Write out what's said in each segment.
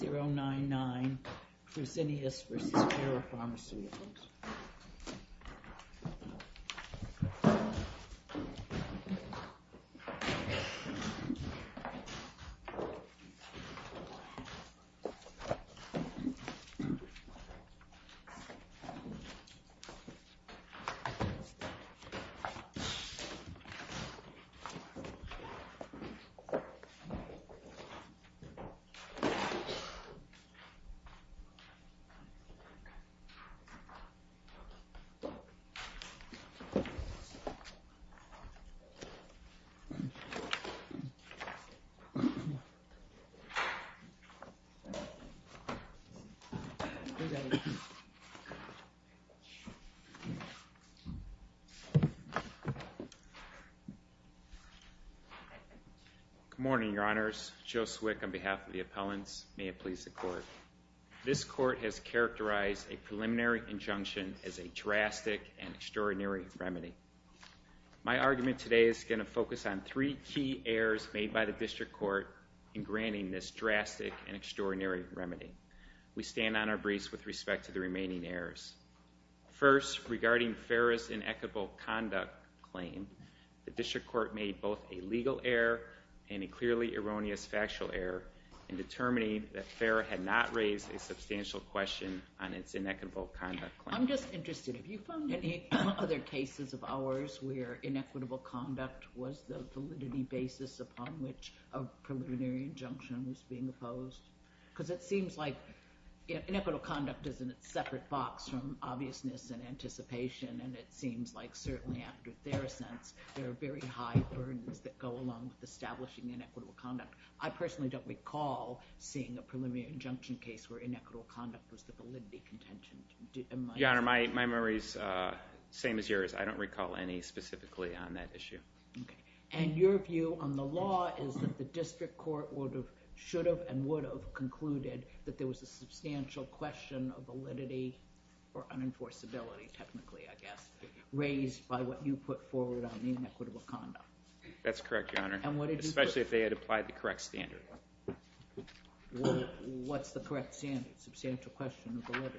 099 for Xenius versus Parapharmaceuticals. Good morning, your honors. Joe Swick on behalf of the appellants. May it please the court. This court has characterized a preliminary injunction as a drastic and extraordinary remedy. My argument today is going to focus on three key errors made by the district court in granting this drastic and extraordinary remedy. We stand on our briefs with respect to the remaining errors. First, regarding FARA's inequitable conduct claim, the district court made both a legal error and a clearly erroneous factual error in determining that FARA had not raised a substantial question on its inequitable conduct claim. I'm just interested. Have you found any other cases of ours where inequitable conduct was the validity basis upon which a preliminary injunction was being opposed? Because it seems like inequitable conduct is in a separate box from obviousness and anticipation. And it seems like certainly after Theracents, there are very high burdens that go along with establishing inequitable conduct. I personally don't recall seeing a preliminary injunction case where inequitable conduct was the validity contention. Your honor, my memory is the same as yours. I don't recall any specifically on that issue. And your view on the law is that the district court should have and would have concluded that there was a substantial question of validity or unenforceability, technically, I guess, raised by what you put forward on the inequitable conduct. That's correct, your honor. And what did you put? Especially if they had applied the correct standard. Well, what's the correct standard? Substantial question of validity.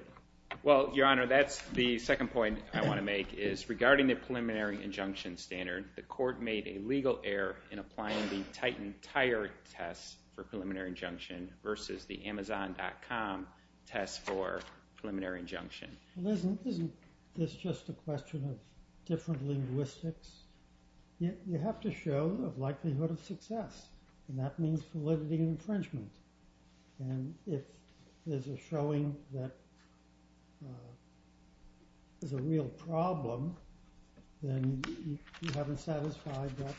Well, your honor, that's the second point I want to make is regarding the preliminary injunction standard, the court made a legal error in applying the Titan tire test for the Amazon.com test for preliminary injunction. Well, isn't this just a question of different linguistics? You have to show the likelihood of success. And that means validity infringement. And if there's a showing that there's a real problem, then you haven't satisfied that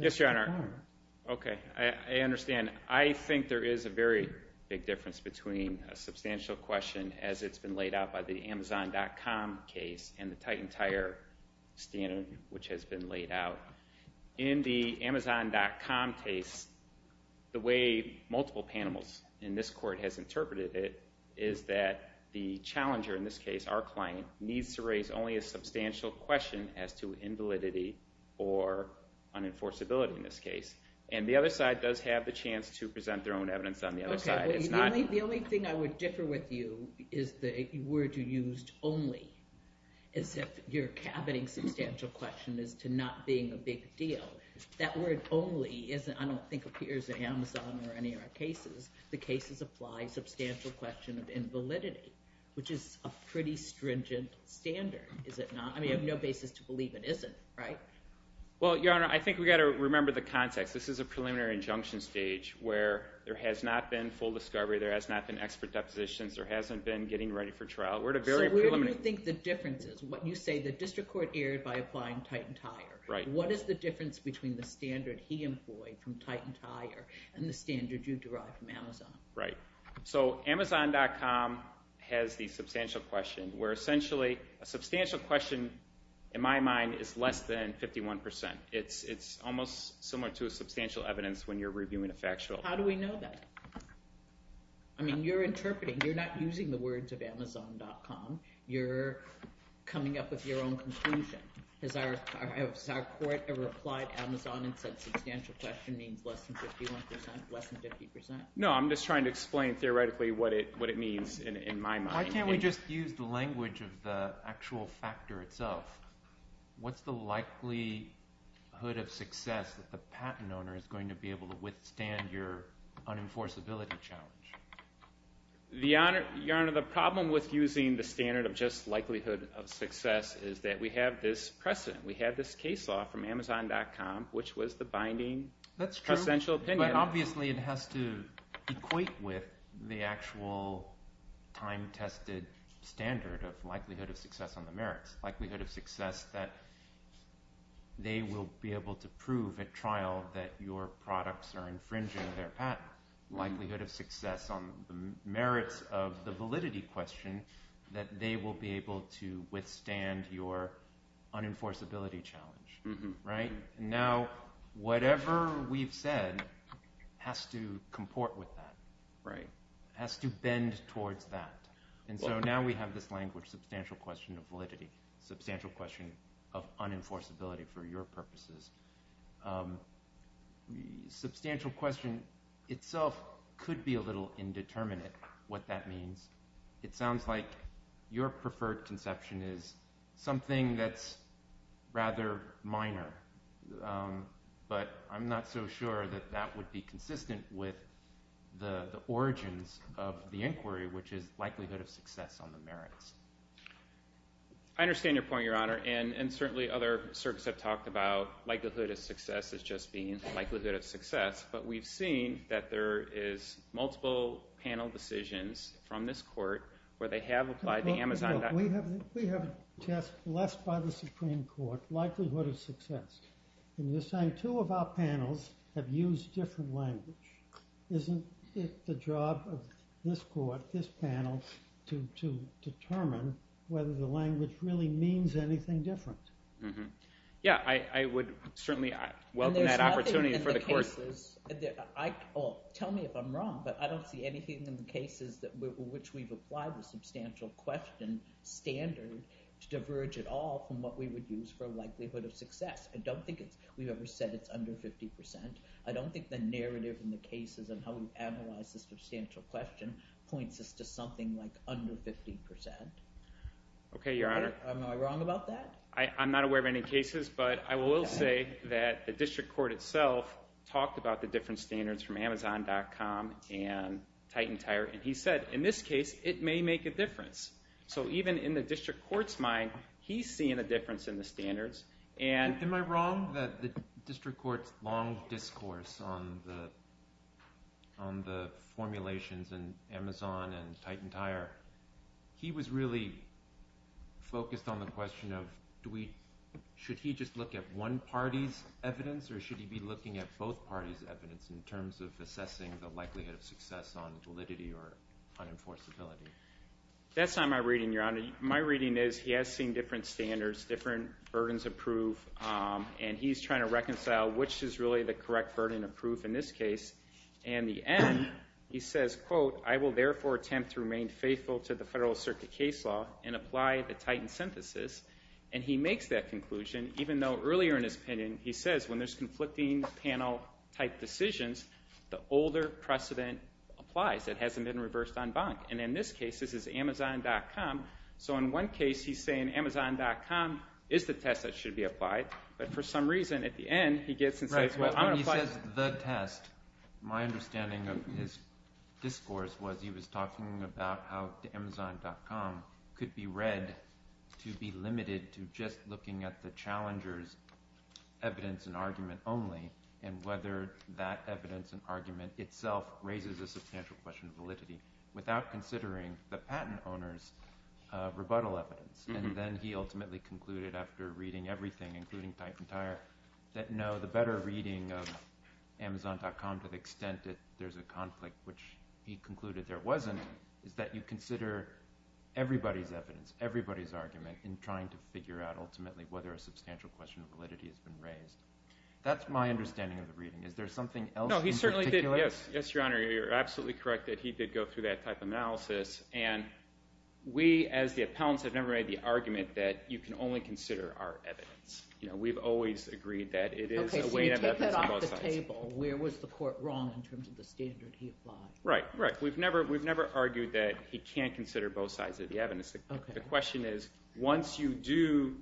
Yes, your honor. Okay. I understand. I think there is a very big difference between a substantial question as it's been laid out by the Amazon.com case and the Titan tire standard, which has been laid out. In the Amazon.com case, the way multiple panels in this court has interpreted it is that the as to invalidity or unenforceability in this case. And the other side does have the chance to present their own evidence on the other side. Okay. The only thing I would differ with you is the word you used, only, as if you're caboting substantial question as to not being a big deal. That word only, I don't think, appears in Amazon or any of our cases. The cases apply substantial question of invalidity, which is a pretty stringent standard, is it not? I mean, I have no basis to believe it isn't. Right? Well, your honor, I think we've got to remember the context. This is a preliminary injunction stage where there has not been full discovery. There has not been expert depositions. There hasn't been getting ready for trial. So where do you think the difference is? When you say the district court erred by applying Titan tire. Right. What is the difference between the standard he employed from Titan tire and the standard you derived from Amazon? Right. So Amazon.com has the substantial question, where essentially a substantial question, in my mind, is less than 51%. It's almost similar to a substantial evidence when you're reviewing a factual. How do we know that? I mean, you're interpreting. You're not using the words of Amazon.com. You're coming up with your own conclusion. Has our court ever applied Amazon and said substantial question means less than 51%, less than 50%? No. I'm just trying to explain theoretically what it means in my mind. Why can't we just use the language of the actual factor itself? What's the likelihood of success that the patent owner is going to be able to withstand your unenforceability challenge? Your honor, the problem with using the standard of just likelihood of success is that we have this precedent. We have this case law from Amazon.com, which was the binding presidential opinion. But obviously it has to equate with the actual time-tested standard of likelihood of success on the merits. Likelihood of success that they will be able to prove at trial that your products are infringing their patent. Likelihood of success on the merits of the validity question that they will be able to withstand your unenforceability challenge. And now whatever we've said has to comport with that, has to bend towards that. And so now we have this language, substantial question of validity, substantial question of unenforceability for your purposes. Substantial question itself could be a little indeterminate what that means. It sounds like your preferred conception is something that's rather minor. But I'm not so sure that that would be consistent with the origins of the inquiry, which is likelihood of success on the merits. I understand your point, your honor. And certainly other circuits have talked about likelihood of success as just being likelihood of success. But we've seen that there is multiple panel decisions from this court where they have applied the Amazon. We have a test left by the Supreme Court, likelihood of success. And you're saying two of our panels have used different language. Isn't it the job of this court, this panel, to determine whether the language really means anything different? Yeah, I would certainly welcome that opportunity for the court. Tell me if I'm wrong, but I don't see anything in the cases which we've applied the substantial question standard to diverge at all from what we would use for likelihood of success. I don't think we've ever said it's under 50%. I don't think the narrative in the cases and how we analyze the substantial question points us to something like under 50%. OK, your honor. Am I wrong about that? I'm not aware of any cases, but I will say that the district court itself talked about the different standards from Amazon.com and Titan Tire. And he said, in this case, it may make a difference. So even in the district court's mind, he's seeing a difference in the standards. Am I wrong that the district court's long discourse on the formulations in Amazon and Should he just look at one party's evidence, or should he be looking at both parties' evidence in terms of assessing the likelihood of success on validity or on enforceability? That's not my reading, your honor. My reading is he has seen different standards, different burdens of proof, and he's trying to reconcile which is really the correct burden of proof in this case. And the end, he says, quote, I will therefore attempt to remain faithful to the federal circuit case law and apply the Titan synthesis. And he makes that conclusion, even though earlier in his opinion, he says when there's conflicting panel-type decisions, the older precedent applies. It hasn't been reversed en banc. And in this case, this is Amazon.com. So in one case, he's saying Amazon.com is the test that should be applied. But for some reason, at the end, he gets and says, well, I'm going to apply. He says the test. My understanding of his discourse was he was talking about how Amazon.com could be read to be limited to just looking at the challenger's evidence and argument only and whether that evidence and argument itself raises a substantial question of validity without considering the patent owner's rebuttal evidence. And then he ultimately concluded after reading everything, including Titan Tire, that no, the better reading of Amazon.com to the extent that there's a conflict, which he concluded there wasn't, is that you consider everybody's evidence, everybody's argument in trying to figure out ultimately whether a substantial question of validity has been raised. That's my understanding of the reading. Is there something else in particular? No, he certainly did. Yes, Your Honor, you're absolutely correct that he did go through that type of analysis. And we, as the appellants, have never made the argument that you can only consider our evidence. You know, we've always agreed that it is a way to have evidence on both sides. Okay, so you take that off the table. Where was the court wrong in terms of the standard he applied? Right, right. We've never argued that he can't consider both sides of the evidence. The question is, once you do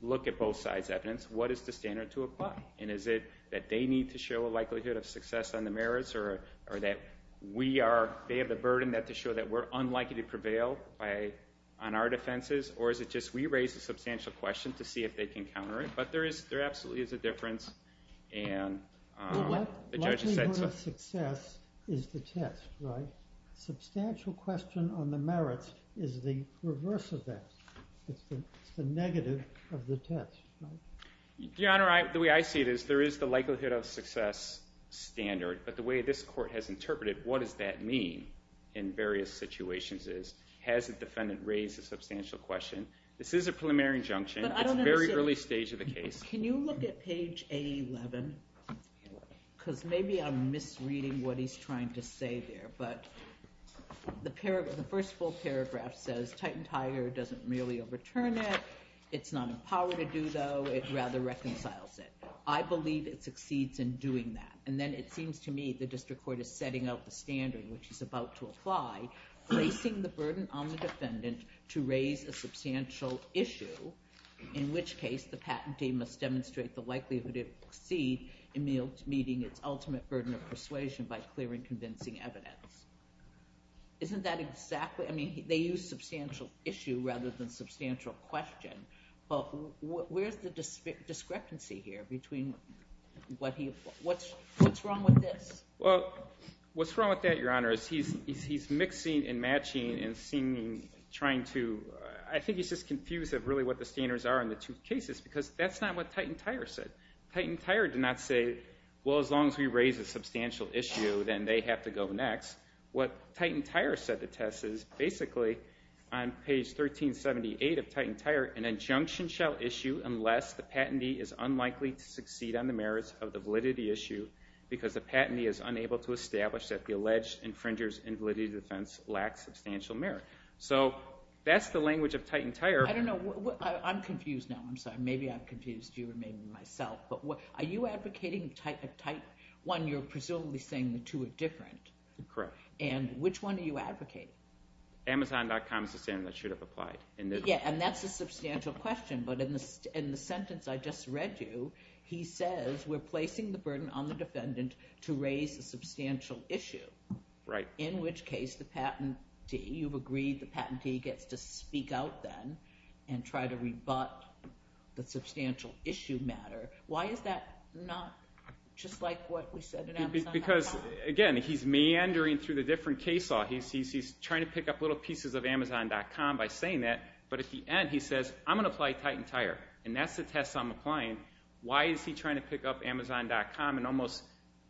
look at both sides' evidence, what is the standard to apply? And is it that they need to show a likelihood of success on the merits or that we are, they have the burden to show that we're unlikely to prevail on our defenses? Or is it just we raise a substantial question to see if they can counter it? But there absolutely is a difference. Well, what likelihood of success is the test, right? Substantial question on the merits is the reverse of that. It's the negative of the test, right? Your Honor, the way I see it is there is the likelihood of success standard, but the way this court has interpreted what does that mean in various situations is, has the defendant raised a substantial question? This is a preliminary injunction. It's very early stage of the case. Can you look at page A11? Because maybe I'm misreading what he's trying to say there. But the first full paragraph says, Titan Tiger doesn't merely overturn it. It's not a power to do, though. It rather reconciles it. I believe it succeeds in doing that. And then it seems to me the district court is setting up the standard, which is about to apply, placing the burden on the defendant to raise a substantial issue, in which case the patentee must demonstrate the likelihood it will succeed in meeting its ultimate burden of persuasion by clearing convincing evidence. Isn't that exactly? I mean, they use substantial issue rather than substantial question. But where's the discrepancy here between what's wrong with this? Well, what's wrong with that, Your Honor, is he's mixing and matching and trying to I think he's just confused of really what the standards are in the two cases, because that's not what Titan Tiger said. Titan Tiger did not say, well, as long as we raise a substantial issue, then they have to go next. What Titan Tiger said to test is, basically, on page 1378 of Titan Tiger, an injunction shall issue unless the patentee is unlikely to succeed on the merits of the validity issue because the patentee is unable to establish that the alleged infringer's invalidity defense lacks substantial merit. So that's the language of Titan Tiger. I don't know. I'm confused now. I'm sorry. Maybe I've confused you, or maybe myself. But are you advocating a type one? You're presumably saying the two are different. Correct. And which one are you advocating? Amazon.com is the standard that should have applied in this one. Yeah, and that's a substantial question. But in the sentence I just read you, he says we're placing the burden on the defendant to raise a substantial issue. Right. In which case, the patentee, you've agreed the patentee gets to speak out then and try to rebut the substantial issue matter. Why is that not just like what we said in Amazon.com? Because, again, he's meandering through the different case law. He's trying to pick up little pieces of Amazon.com by saying that. But at the end, he says, I'm going to apply Titan Tiger. And that's the test I'm applying. Why is he trying to pick up Amazon.com and almost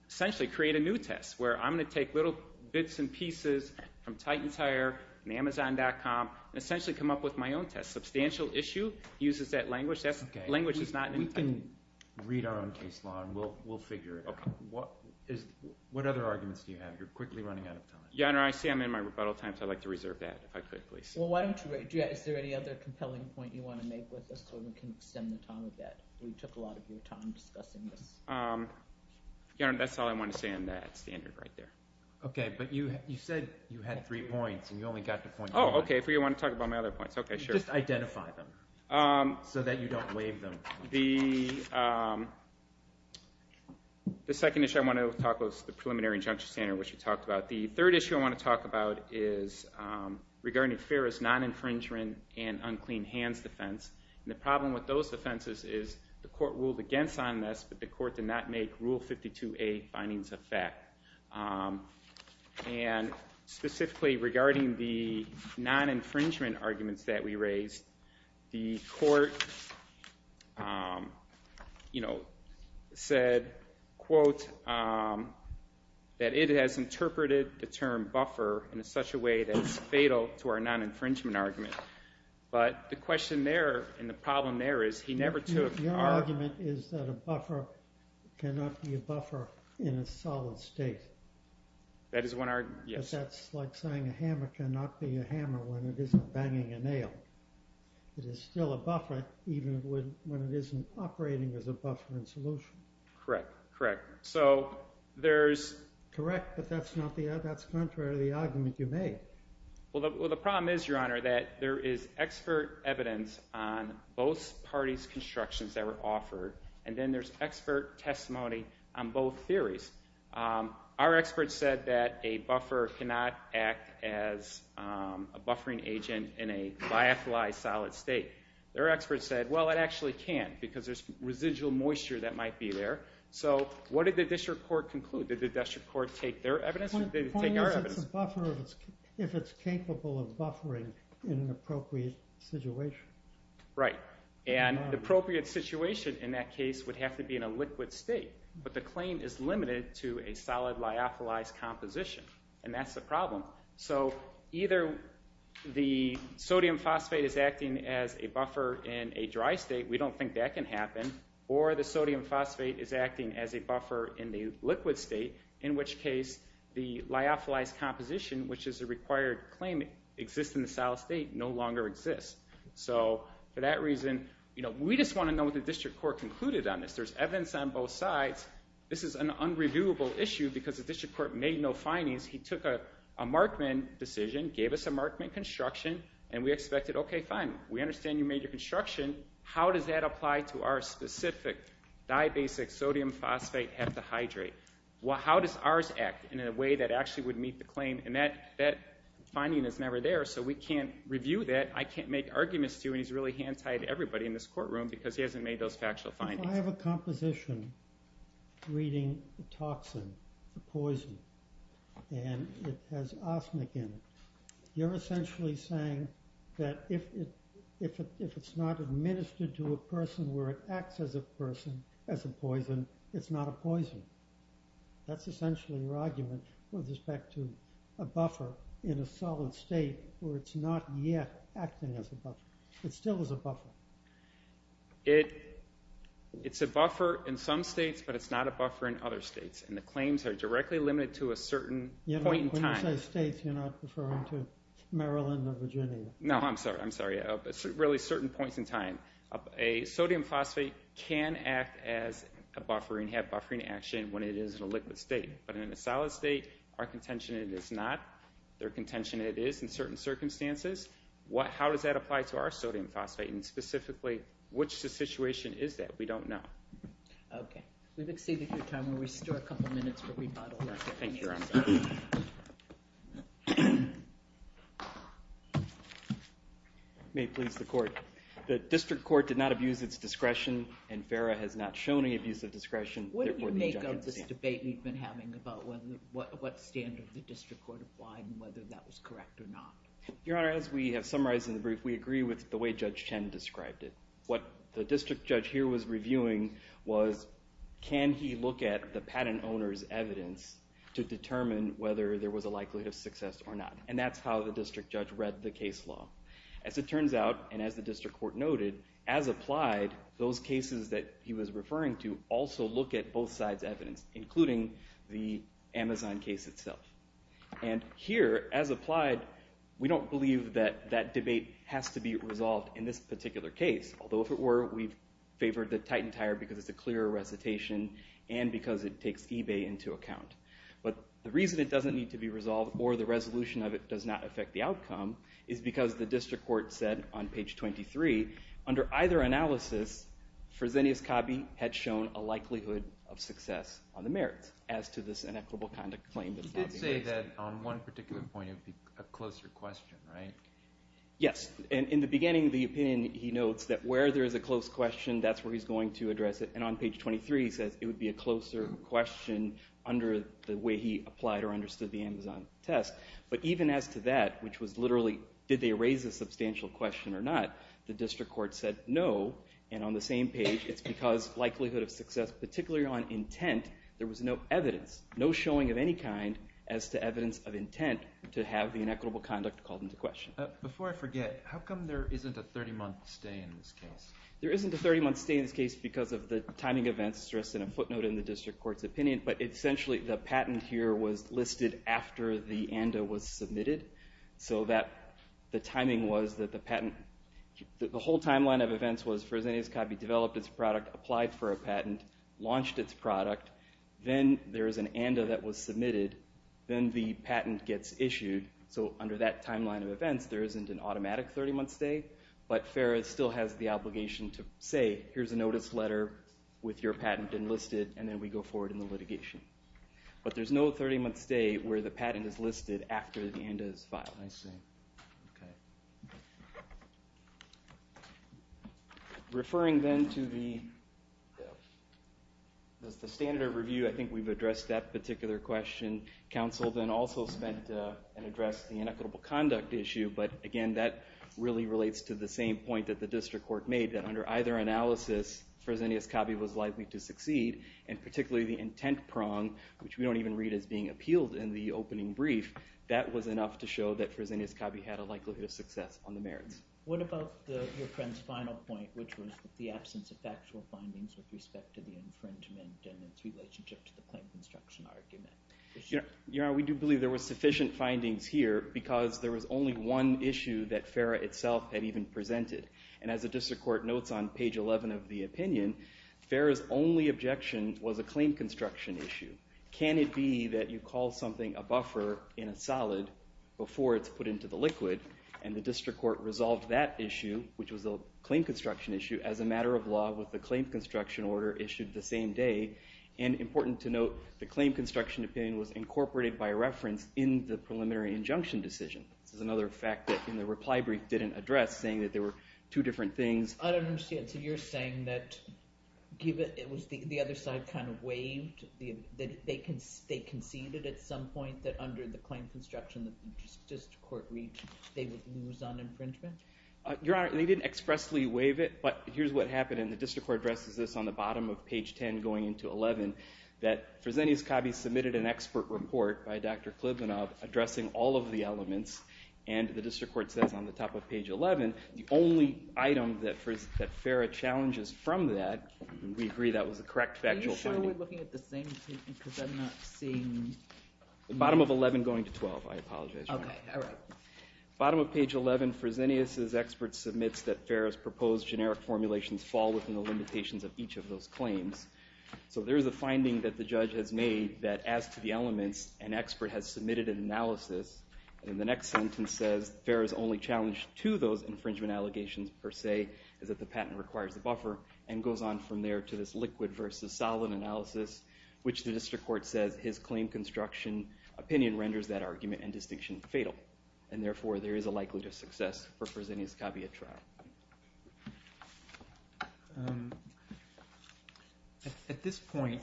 essentially create a new test where I'm going to take little bits and pieces from Titan Tiger and Amazon.com and essentially come up with my own test? Substantial issue uses that language. That language is not in Titan. We can read our own case law, and we'll figure it out. What other arguments do you have? You're quickly running out of time. Yeah, I know. I see I'm in my rebuttal time, so I'd like to reserve that, if I could, please. Well, is there any other compelling point you want to make with us so we can extend the time a bit? We took a lot of your time discussing this. That's all I want to say on that standard right there. OK, but you said you had three points, and you only got to point one. Oh, OK, if you want to talk about my other points. OK, sure. Just identify them so that you don't waive them. The second issue I want to talk about is the preliminary injunction standard, which you talked about. The third issue I want to talk about is regarding FARA's non-infringement and unclean hands defense. The problem with those defenses is the court ruled against on this, but the court did not make Rule 52A findings a fact. Specifically regarding the non-infringement arguments that we raised, the court said, quote, that it has interpreted the term buffer in such a way that it's fatal to our non-infringement argument. But the question there and the problem there is he never took our- Your argument is that a buffer cannot be a buffer in a solid state. That is one argument, yes. But that's like saying a hammer cannot be a hammer when it isn't banging a nail. It is still a buffer even when it isn't operating as a buffer in solution. Correct. Correct. So there's- Correct, but that's contrary to the argument you made. Well, the problem is, Your Honor, that there is expert evidence on both parties' constructions that were offered, and then there's expert testimony on both theories. Our experts said that a buffer cannot act as a buffering agent in a biathlized solid state. Their experts said, well, it actually can because there's residual moisture that might be there. So what did the district court conclude? Did the district court take their evidence or did it take our evidence? Well, the point is it's a buffer if it's capable of buffering in an appropriate situation. Right. And the appropriate situation in that case would have to be in a liquid state. But the claim is limited to a solid biathlized composition, and that's the problem. So either the sodium phosphate is acting as a buffer in a dry state. We don't think that can happen. Or the sodium phosphate is acting as a buffer in the liquid state, in which case the biathlized composition, which is a required claim, exists in the solid state, no longer exists. So for that reason, we just want to know what the district court concluded on this. There's evidence on both sides. This is an unreviewable issue because the district court made no findings. He took a Markman decision, gave us a Markman construction, and we expected, okay, fine. We understand you made your construction. How does that apply to our specific dibasic sodium phosphate heptahydrate? How does ours act in a way that actually would meet the claim? And that finding is never there, so we can't review that. I can't make arguments to you, and he's really hand-tied everybody in this courtroom because he hasn't made those factual findings. I have a composition reading the toxin, the poison, and it has arsenic in it. You're essentially saying that if it's not administered to a person where it acts as a person, as a poison, it's not a poison. That's essentially your argument with respect to a buffer in a solid state where it's not yet acting as a buffer. It still is a buffer. It's a buffer in some states, but it's not a buffer in other states, and the claims are directly limited to a certain point in time. When you say states, you're not referring to Maryland or Virginia. No, I'm sorry. I'm sorry. It's really certain points in time. A sodium phosphate can act as a buffer and have buffering action when it is in a liquid state, but in a solid state, our contention is it's not. Their contention is it is in certain circumstances. How does that apply to our sodium phosphate, and specifically, which situation is that? We don't know. Okay. We've exceeded your time. We still have a couple minutes for rebuttal. Thank you, Your Honor. May it please the Court. The district court did not abuse its discretion, and FARA has not shown any abuse of discretion. What did you make of this debate we've been having about what standard the district court applied and whether that was correct or not? Your Honor, as we have summarized in the brief, we agree with the way Judge Chen described it. What the district judge here was reviewing was, can he look at the patent owner's evidence to determine whether there was a likelihood of success or not? And that's how the district judge read the case law. As it turns out, and as the district court noted, as applied, those cases that he was referring to also look at both sides' evidence, including the Amazon case itself. And here, as applied, we don't believe that that debate has to be resolved in this particular case, although if it were, we've favored the Titan Tire because it's a clearer recitation and because it takes eBay into account. But the reason it doesn't need to be resolved or the resolution of it does not affect the outcome is because the district court said on page 23, under either analysis, Fresenius Cabe had shown a likelihood of success on the merits as to this inequitable conduct claim that's not being raised. You did say that on one particular point it would be a closer question, right? Yes. In the beginning of the opinion, he notes that where there is a close question, that's where he's going to address it. And on page 23, he says it would be a closer question under the way he applied or understood the Amazon test. But even as to that, which was literally, did they raise a substantial question or not, the district court said no. And on the same page, it's because likelihood of success, particularly on intent, there was no evidence, no showing of any kind as to evidence of intent to have the inequitable conduct called into question. Before I forget, how come there isn't a 30-month stay in this case? There isn't a 30-month stay in this case because of the timing events stressed in a footnote in the district court's opinion. But essentially, the patent here was listed after the ANDA was submitted. So that the timing was that the patent, the whole timeline of events was Fresenius Cabe developed its product, applied for a patent, launched its product. Then there is an ANDA that was submitted. Then the patent gets issued. So under that timeline of events, there isn't an automatic 30-month stay. But FARA still has the obligation to say, here's a notice letter with your patent enlisted, and then we go forward in the litigation. But there's no 30-month stay where the patent is listed after the ANDA is filed. I see. Okay. Referring then to the standard of review, I think we've addressed that particular question. Council then also spent and addressed the inequitable conduct issue. But again, that really relates to the same point that the district court made, that under either analysis, Fresenius Cabe was likely to succeed. And particularly the intent prong, which we don't even read as being appealed in the opening brief, that was enough to show that Fresenius Cabe had a likelihood of success on the merits. What about your friend's final point, which was the absence of factual findings with respect to the infringement and its relationship to the claim construction argument? Your Honor, we do believe there were sufficient findings here because there was only one issue that FARA itself had even presented. And as the district court notes on page 11 of the opinion, FARA's only objection was a claim construction issue. Can it be that you call something a buffer in a solid before it's put into the liquid? And the district court resolved that issue, which was a claim construction issue, as a matter of law with the claim construction order issued the same day. And important to note, the claim construction opinion was incorporated by reference in the preliminary injunction decision. This is another fact that the reply brief didn't address, saying that there were two different things. I don't understand. So you're saying that it was the other side kind of waived, that they conceded at some point that under the claim construction that the district court reached, they would lose on infringement? Your Honor, they didn't expressly waive it, but here's what happened, and the district court addresses this on the bottom of page 10 going into 11, that Fresenius Cabe submitted an expert report by Dr. Klibunov addressing all of the elements, and the district court says on the top of page 11, the only item that FARA challenges from that, and we agree that was the correct factual finding. Are you sure we're looking at the same thing, because I'm not seeing... The bottom of 11 going to 12, I apologize, Your Honor. Okay, all right. Bottom of page 11, Fresenius' expert submits that FARA's proposed generic formulations fall within the limitations of each of those claims. So there's a finding that the judge has made that as to the elements, an expert has submitted an analysis, and the next sentence says, FARA's only challenge to those infringement allegations per se is that the patent requires the buffer, and goes on from there to this liquid versus solid analysis, which the district court says his claim construction opinion renders that argument and distinction fatal, and therefore there is a likelihood of success for Fresenius Cabe at trial. At this point,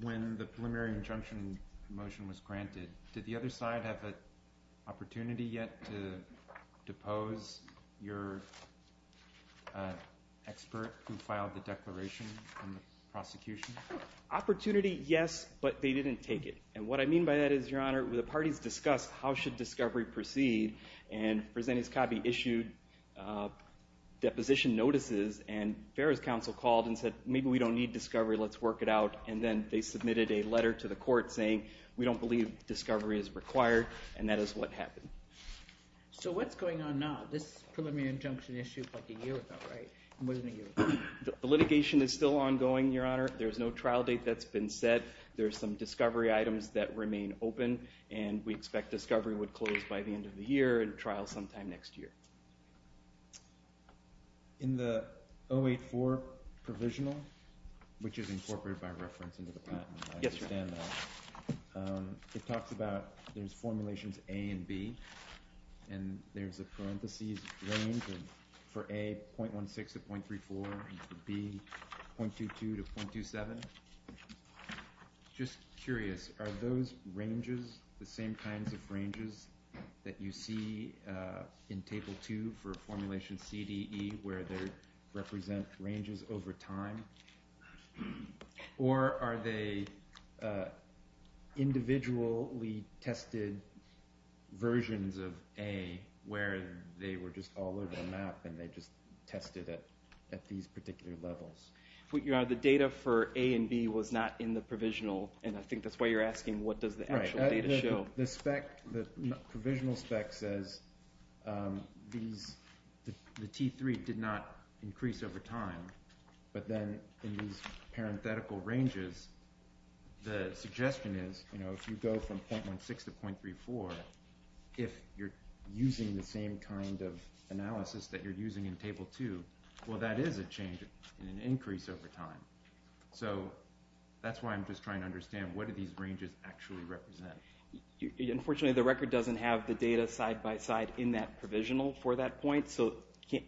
when the preliminary injunction motion was granted, did the other side have an opportunity yet to depose your expert who filed the declaration in the prosecution? Opportunity, yes, but they didn't take it. And what I mean by that is, Your Honor, the parties discussed how should discovery proceed, and Fresenius Cabe issued deposition notices, and FARA's counsel called and said, maybe we don't need discovery, let's work it out, and then they submitted a letter to the court saying, we don't believe discovery is required, and that is what happened. So what's going on now? This preliminary injunction issue is like a year ago, right? It wasn't a year ago. The litigation is still ongoing, Your Honor. There's no trial date that's been set. There are some discovery items that remain open, and we expect discovery would close by the end of the year and trial sometime next year. In the 084 provisional, which is incorporated by reference into the patent, I understand that, it talks about there's formulations A and B, and there's a parentheses range for A, 0.16 to 0.34, and for B, 0.22 to 0.27. Just curious, are those ranges the same kinds of ranges that you see in Table 2 for formulation CDE where they represent ranges over time? Or are they individually tested versions of A where they were just all over the map and they just tested at these particular levels? Your Honor, the data for A and B was not in the provisional, and I think that's why you're asking what does the actual data show. The provisional spec says the T3 did not increase over time, but then in these parenthetical ranges, the suggestion is if you go from 0.16 to 0.34, if you're using the same kind of analysis that you're using in Table 2, well that is a change in an increase over time. So that's why I'm just trying to understand what do these ranges actually represent. Unfortunately, the record doesn't have the data side-by-side in that provisional for that point, so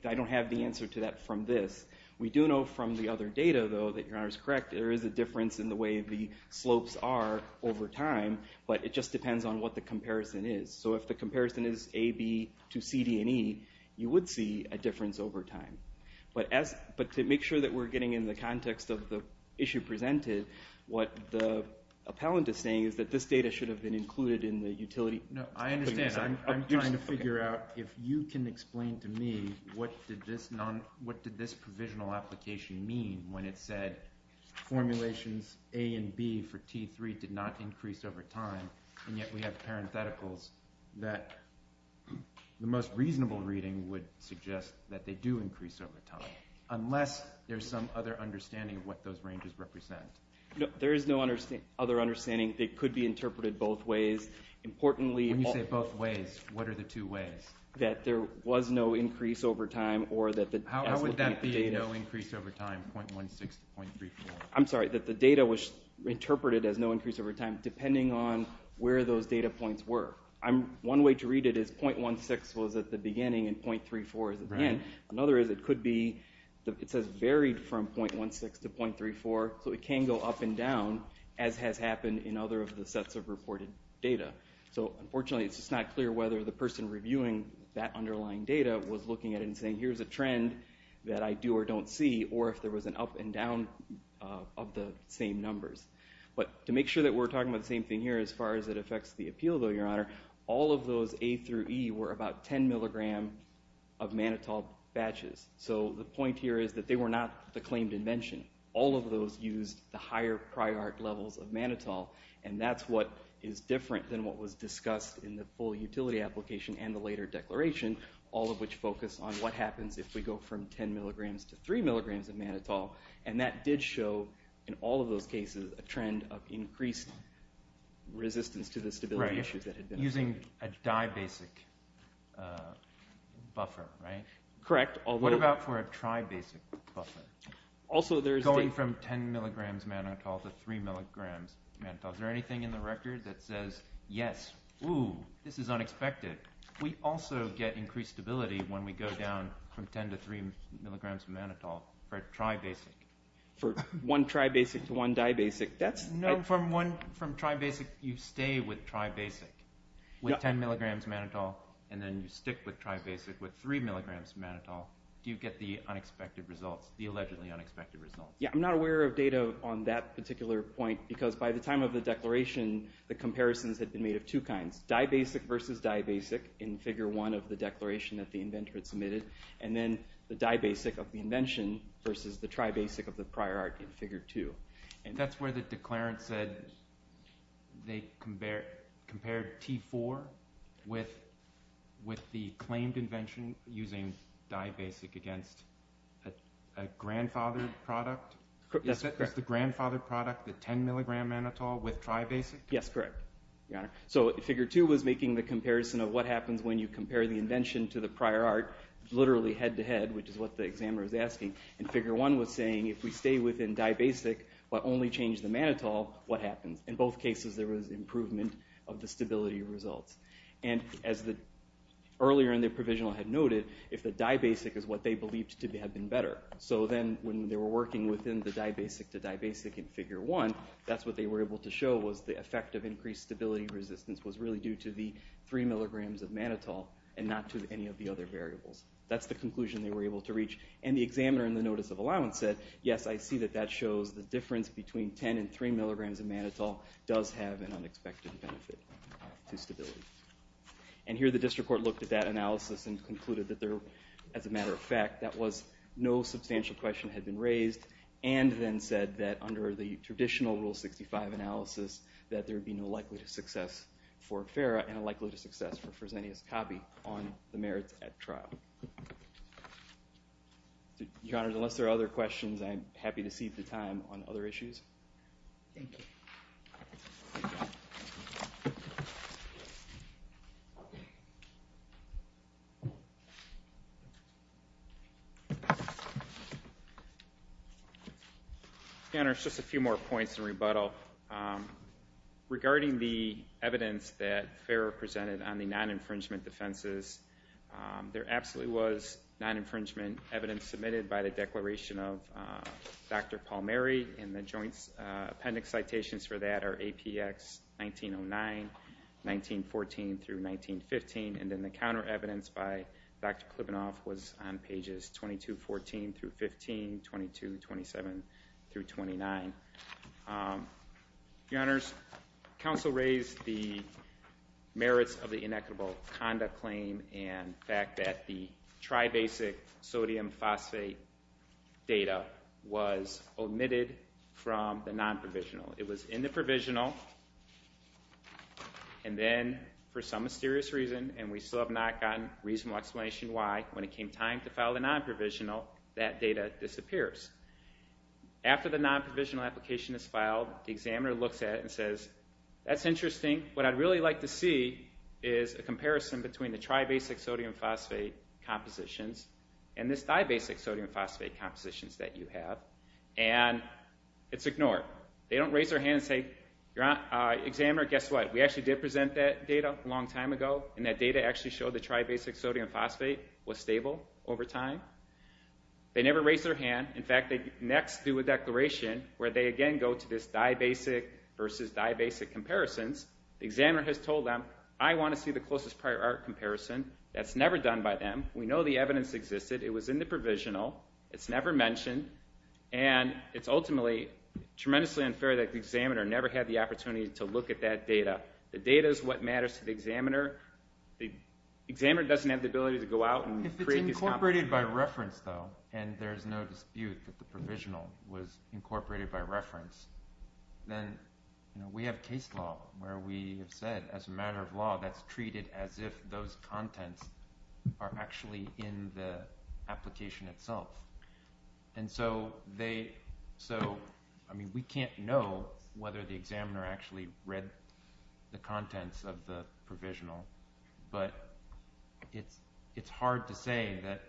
I don't have the answer to that from this. We do know from the other data, though, that Your Honor is correct, there is a difference in the way the slopes are over time, but it just depends on what the comparison is. So if the comparison is A, B to CDE, you would see a difference over time. But to make sure that we're getting in the context of the issue presented, what the appellant is saying is that this data should have been included in the utility. I understand. I'm trying to figure out if you can explain to me what did this provisional application mean when it said formulations A and B for T3 did not increase over time, and yet we have parentheticals that the most reasonable reading would suggest that they do increase over time, unless there's some other understanding of what those ranges represent. There is no other understanding. They could be interpreted both ways. When you say both ways, what are the two ways? That there was no increase over time. How would that be no increase over time, 0.16 to 0.34? I'm sorry, that the data was interpreted as no increase over time depending on where those data points were. One way to read it is 0.16 was at the beginning and 0.34 is at the end. Another is it could be it says varied from 0.16 to 0.34, so it can go up and down, as has happened in other of the sets of reported data. Unfortunately, it's just not clear whether the person reviewing that underlying data was looking at it and saying here's a trend that I do or don't see, or if there was an up and down of the same numbers. But to make sure that we're talking about the same thing here as far as it affects the appeal, though, Your Honor, all of those A through E were about 10 mg of mannitol batches. So the point here is that they were not the claimed invention. All of those used the higher prior art levels of mannitol, and that's what is different than what was discussed in the full utility application and the later declaration, all of which focus on what happens if we go from 10 mg to 3 mg of mannitol. And that did show in all of those cases a trend of increased resistance to the stability issues that had been observed. Using a dibasic buffer, right? Correct. What about for a tribasic buffer? Going from 10 mg mannitol to 3 mg mannitol. Is there anything in the record that says, yes, ooh, this is unexpected? We also get increased stability when we go down from 10 to 3 mg mannitol for a tribasic. For one tribasic to one dibasic. No, from tribasic you stay with tribasic with 10 mg mannitol, and then you stick with tribasic with 3 mg mannitol. Do you get the unexpected results, the allegedly unexpected results? Yeah, I'm not aware of data on that particular point because by the time of the declaration the comparisons had been made of two kinds, dibasic versus dibasic in Figure 1 of the declaration that the inventor had submitted, and then the dibasic of the invention versus the tribasic of the prior art in Figure 2. That's where the declarant said they compared T4 with the claimed invention using dibasic against a grandfathered product? Is that the grandfathered product, the 10 mg mannitol with tribasic? Yes, correct, Your Honor. So Figure 2 was making the comparison of what happens when you compare the invention to the prior art, literally head-to-head, which is what the examiner was asking, and Figure 1 was saying if we stay within dibasic but only change the mannitol, what happens? In both cases there was improvement of the stability results. And as earlier in the provisional I had noted, if the dibasic is what they believed to have been better, so then when they were working within the dibasic to dibasic in Figure 1, that's what they were able to show was the effect of increased stability resistance was really due to the 3 mg of mannitol and not to any of the other variables. That's the conclusion they were able to reach. And the examiner in the Notice of Allowance said, yes, I see that that shows the difference between 10 and 3 mg of mannitol does have an unexpected benefit to stability. And here the district court looked at that analysis and concluded that there, as a matter of fact, that was no substantial question had been raised and then said that under the traditional Rule 65 analysis that there would be no likelihood of success for FERA and a likelihood of success for Fresenius copy on the merits at trial. Your Honors, unless there are other questions, I'm happy to cede the time on other issues. Thank you. Your Honors, just a few more points in rebuttal. Regarding the evidence that FERA presented on the non-infringement defenses, there absolutely was non-infringement evidence submitted by the declaration of Dr. Palmieri and the joint appendix citations for that are APX 1909, 1914 through 1915. And then the counter evidence by Dr. Klibunoff was on pages 2214 through 15, 2227 through 29. Your Honors, counsel raised the merits of the inequitable conduct claim and the fact that the tri-basic sodium phosphate data was omitted from the non-provisional. It was in the provisional and then, for some mysterious reason, and we still have not gotten a reasonable explanation why, when it came time to file the non-provisional, that data disappears. After the non-provisional application is filed, the examiner looks at it and says, that's interesting, what I'd really like to see is a comparison between the tri-basic sodium phosphate compositions and this di-basic sodium phosphate compositions that you have. And it's ignored. They don't raise their hand and say, examiner, guess what, we actually did present that data a long time ago and that data actually showed that tri-basic sodium phosphate was stable over time. They never raise their hand. In fact, they next do a declaration where they again go to this di-basic versus di-basic comparisons. The examiner has told them, I want to see the closest prior art comparison. That's never done by them. We know the evidence existed. It was in the provisional. It's never mentioned. And it's ultimately tremendously unfair that the examiner never had the opportunity to look at that data. The data is what matters to the examiner. The examiner doesn't have the ability to go out and create this comparison. Incorporated by reference, though, and there's no dispute that the provisional was incorporated by reference, then we have case law where we have said as a matter of law that's treated as if those contents are actually in the application itself. And so they, so, I mean, we can't know whether the examiner actually read the contents of the provisional, but it's hard to say that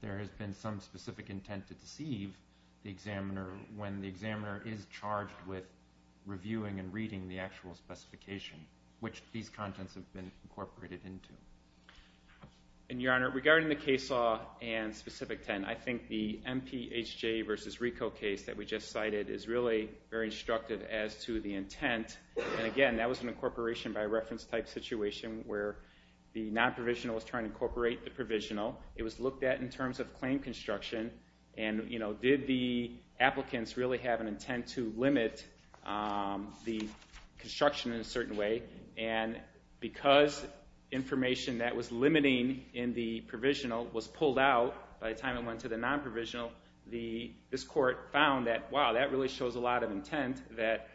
there has been some specific intent to deceive the examiner when the examiner is charged with reviewing and reading the actual specification, which these contents have been incorporated into. And, Your Honor, regarding the case law and specific intent, I think the MPHJ versus RICO case that we just cited is really very instructive as to the intent. And again, that was an incorporation by reference type situation where the non-provisional was trying to incorporate the provisional. It was looked at in terms of claim construction, and did the applicants really have an intent to limit the construction in a certain way? And because information that was limiting in the provisional was pulled out by the time it went to the non-provisional, this court found that, wow, that really shows a lot of intent, that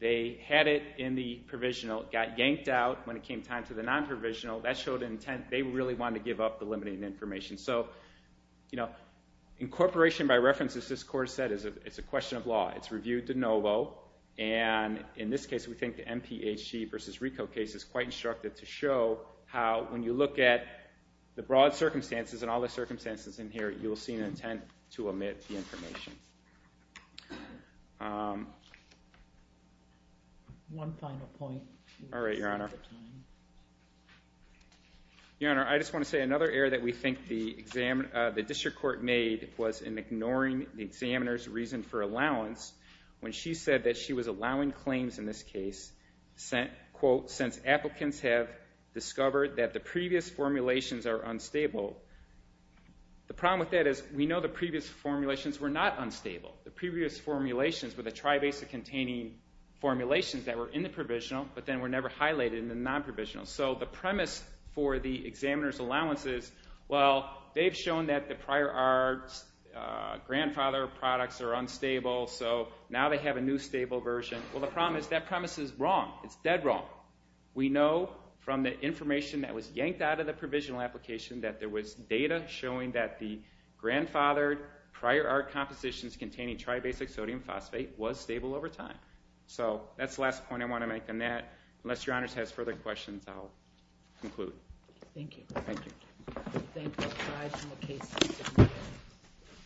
they had it in the provisional, it got yanked out when it came time to the non-provisional, that showed an intent they really wanted to give up the limiting information. So incorporation by reference, as this court said, is a question of law. It's reviewed de novo, and in this case, we think the MPHJ versus RICO case is quite instructive to show how, when you look at the broad circumstances and all the circumstances in here, you will see an intent to omit the information. One final point. All right, Your Honor. Your Honor, I just want to say another error that we think the district court made was in ignoring the examiner's reason for allowance when she said that she was allowing claims in this case, quote, since applicants have discovered that the previous formulations are unstable. The problem with that is we know the previous formulations were not unstable. The previous formulations were the tri-basic containing formulations that were in the provisional, but then were never highlighted in the non-provisional. So the premise for the examiner's allowance is, well, they've shown that the prior arts grandfather products are unstable, so now they have a new stable version. Well, the problem is that premise is wrong. It's dead wrong. We know from the information that was yanked out of the provisional application that there was data showing that the grandfathered prior art compositions containing tri-basic sodium phosphate was stable over time. So that's the last point I want to make on that. Unless Your Honor has further questions, I'll conclude. Thank you. Thank you.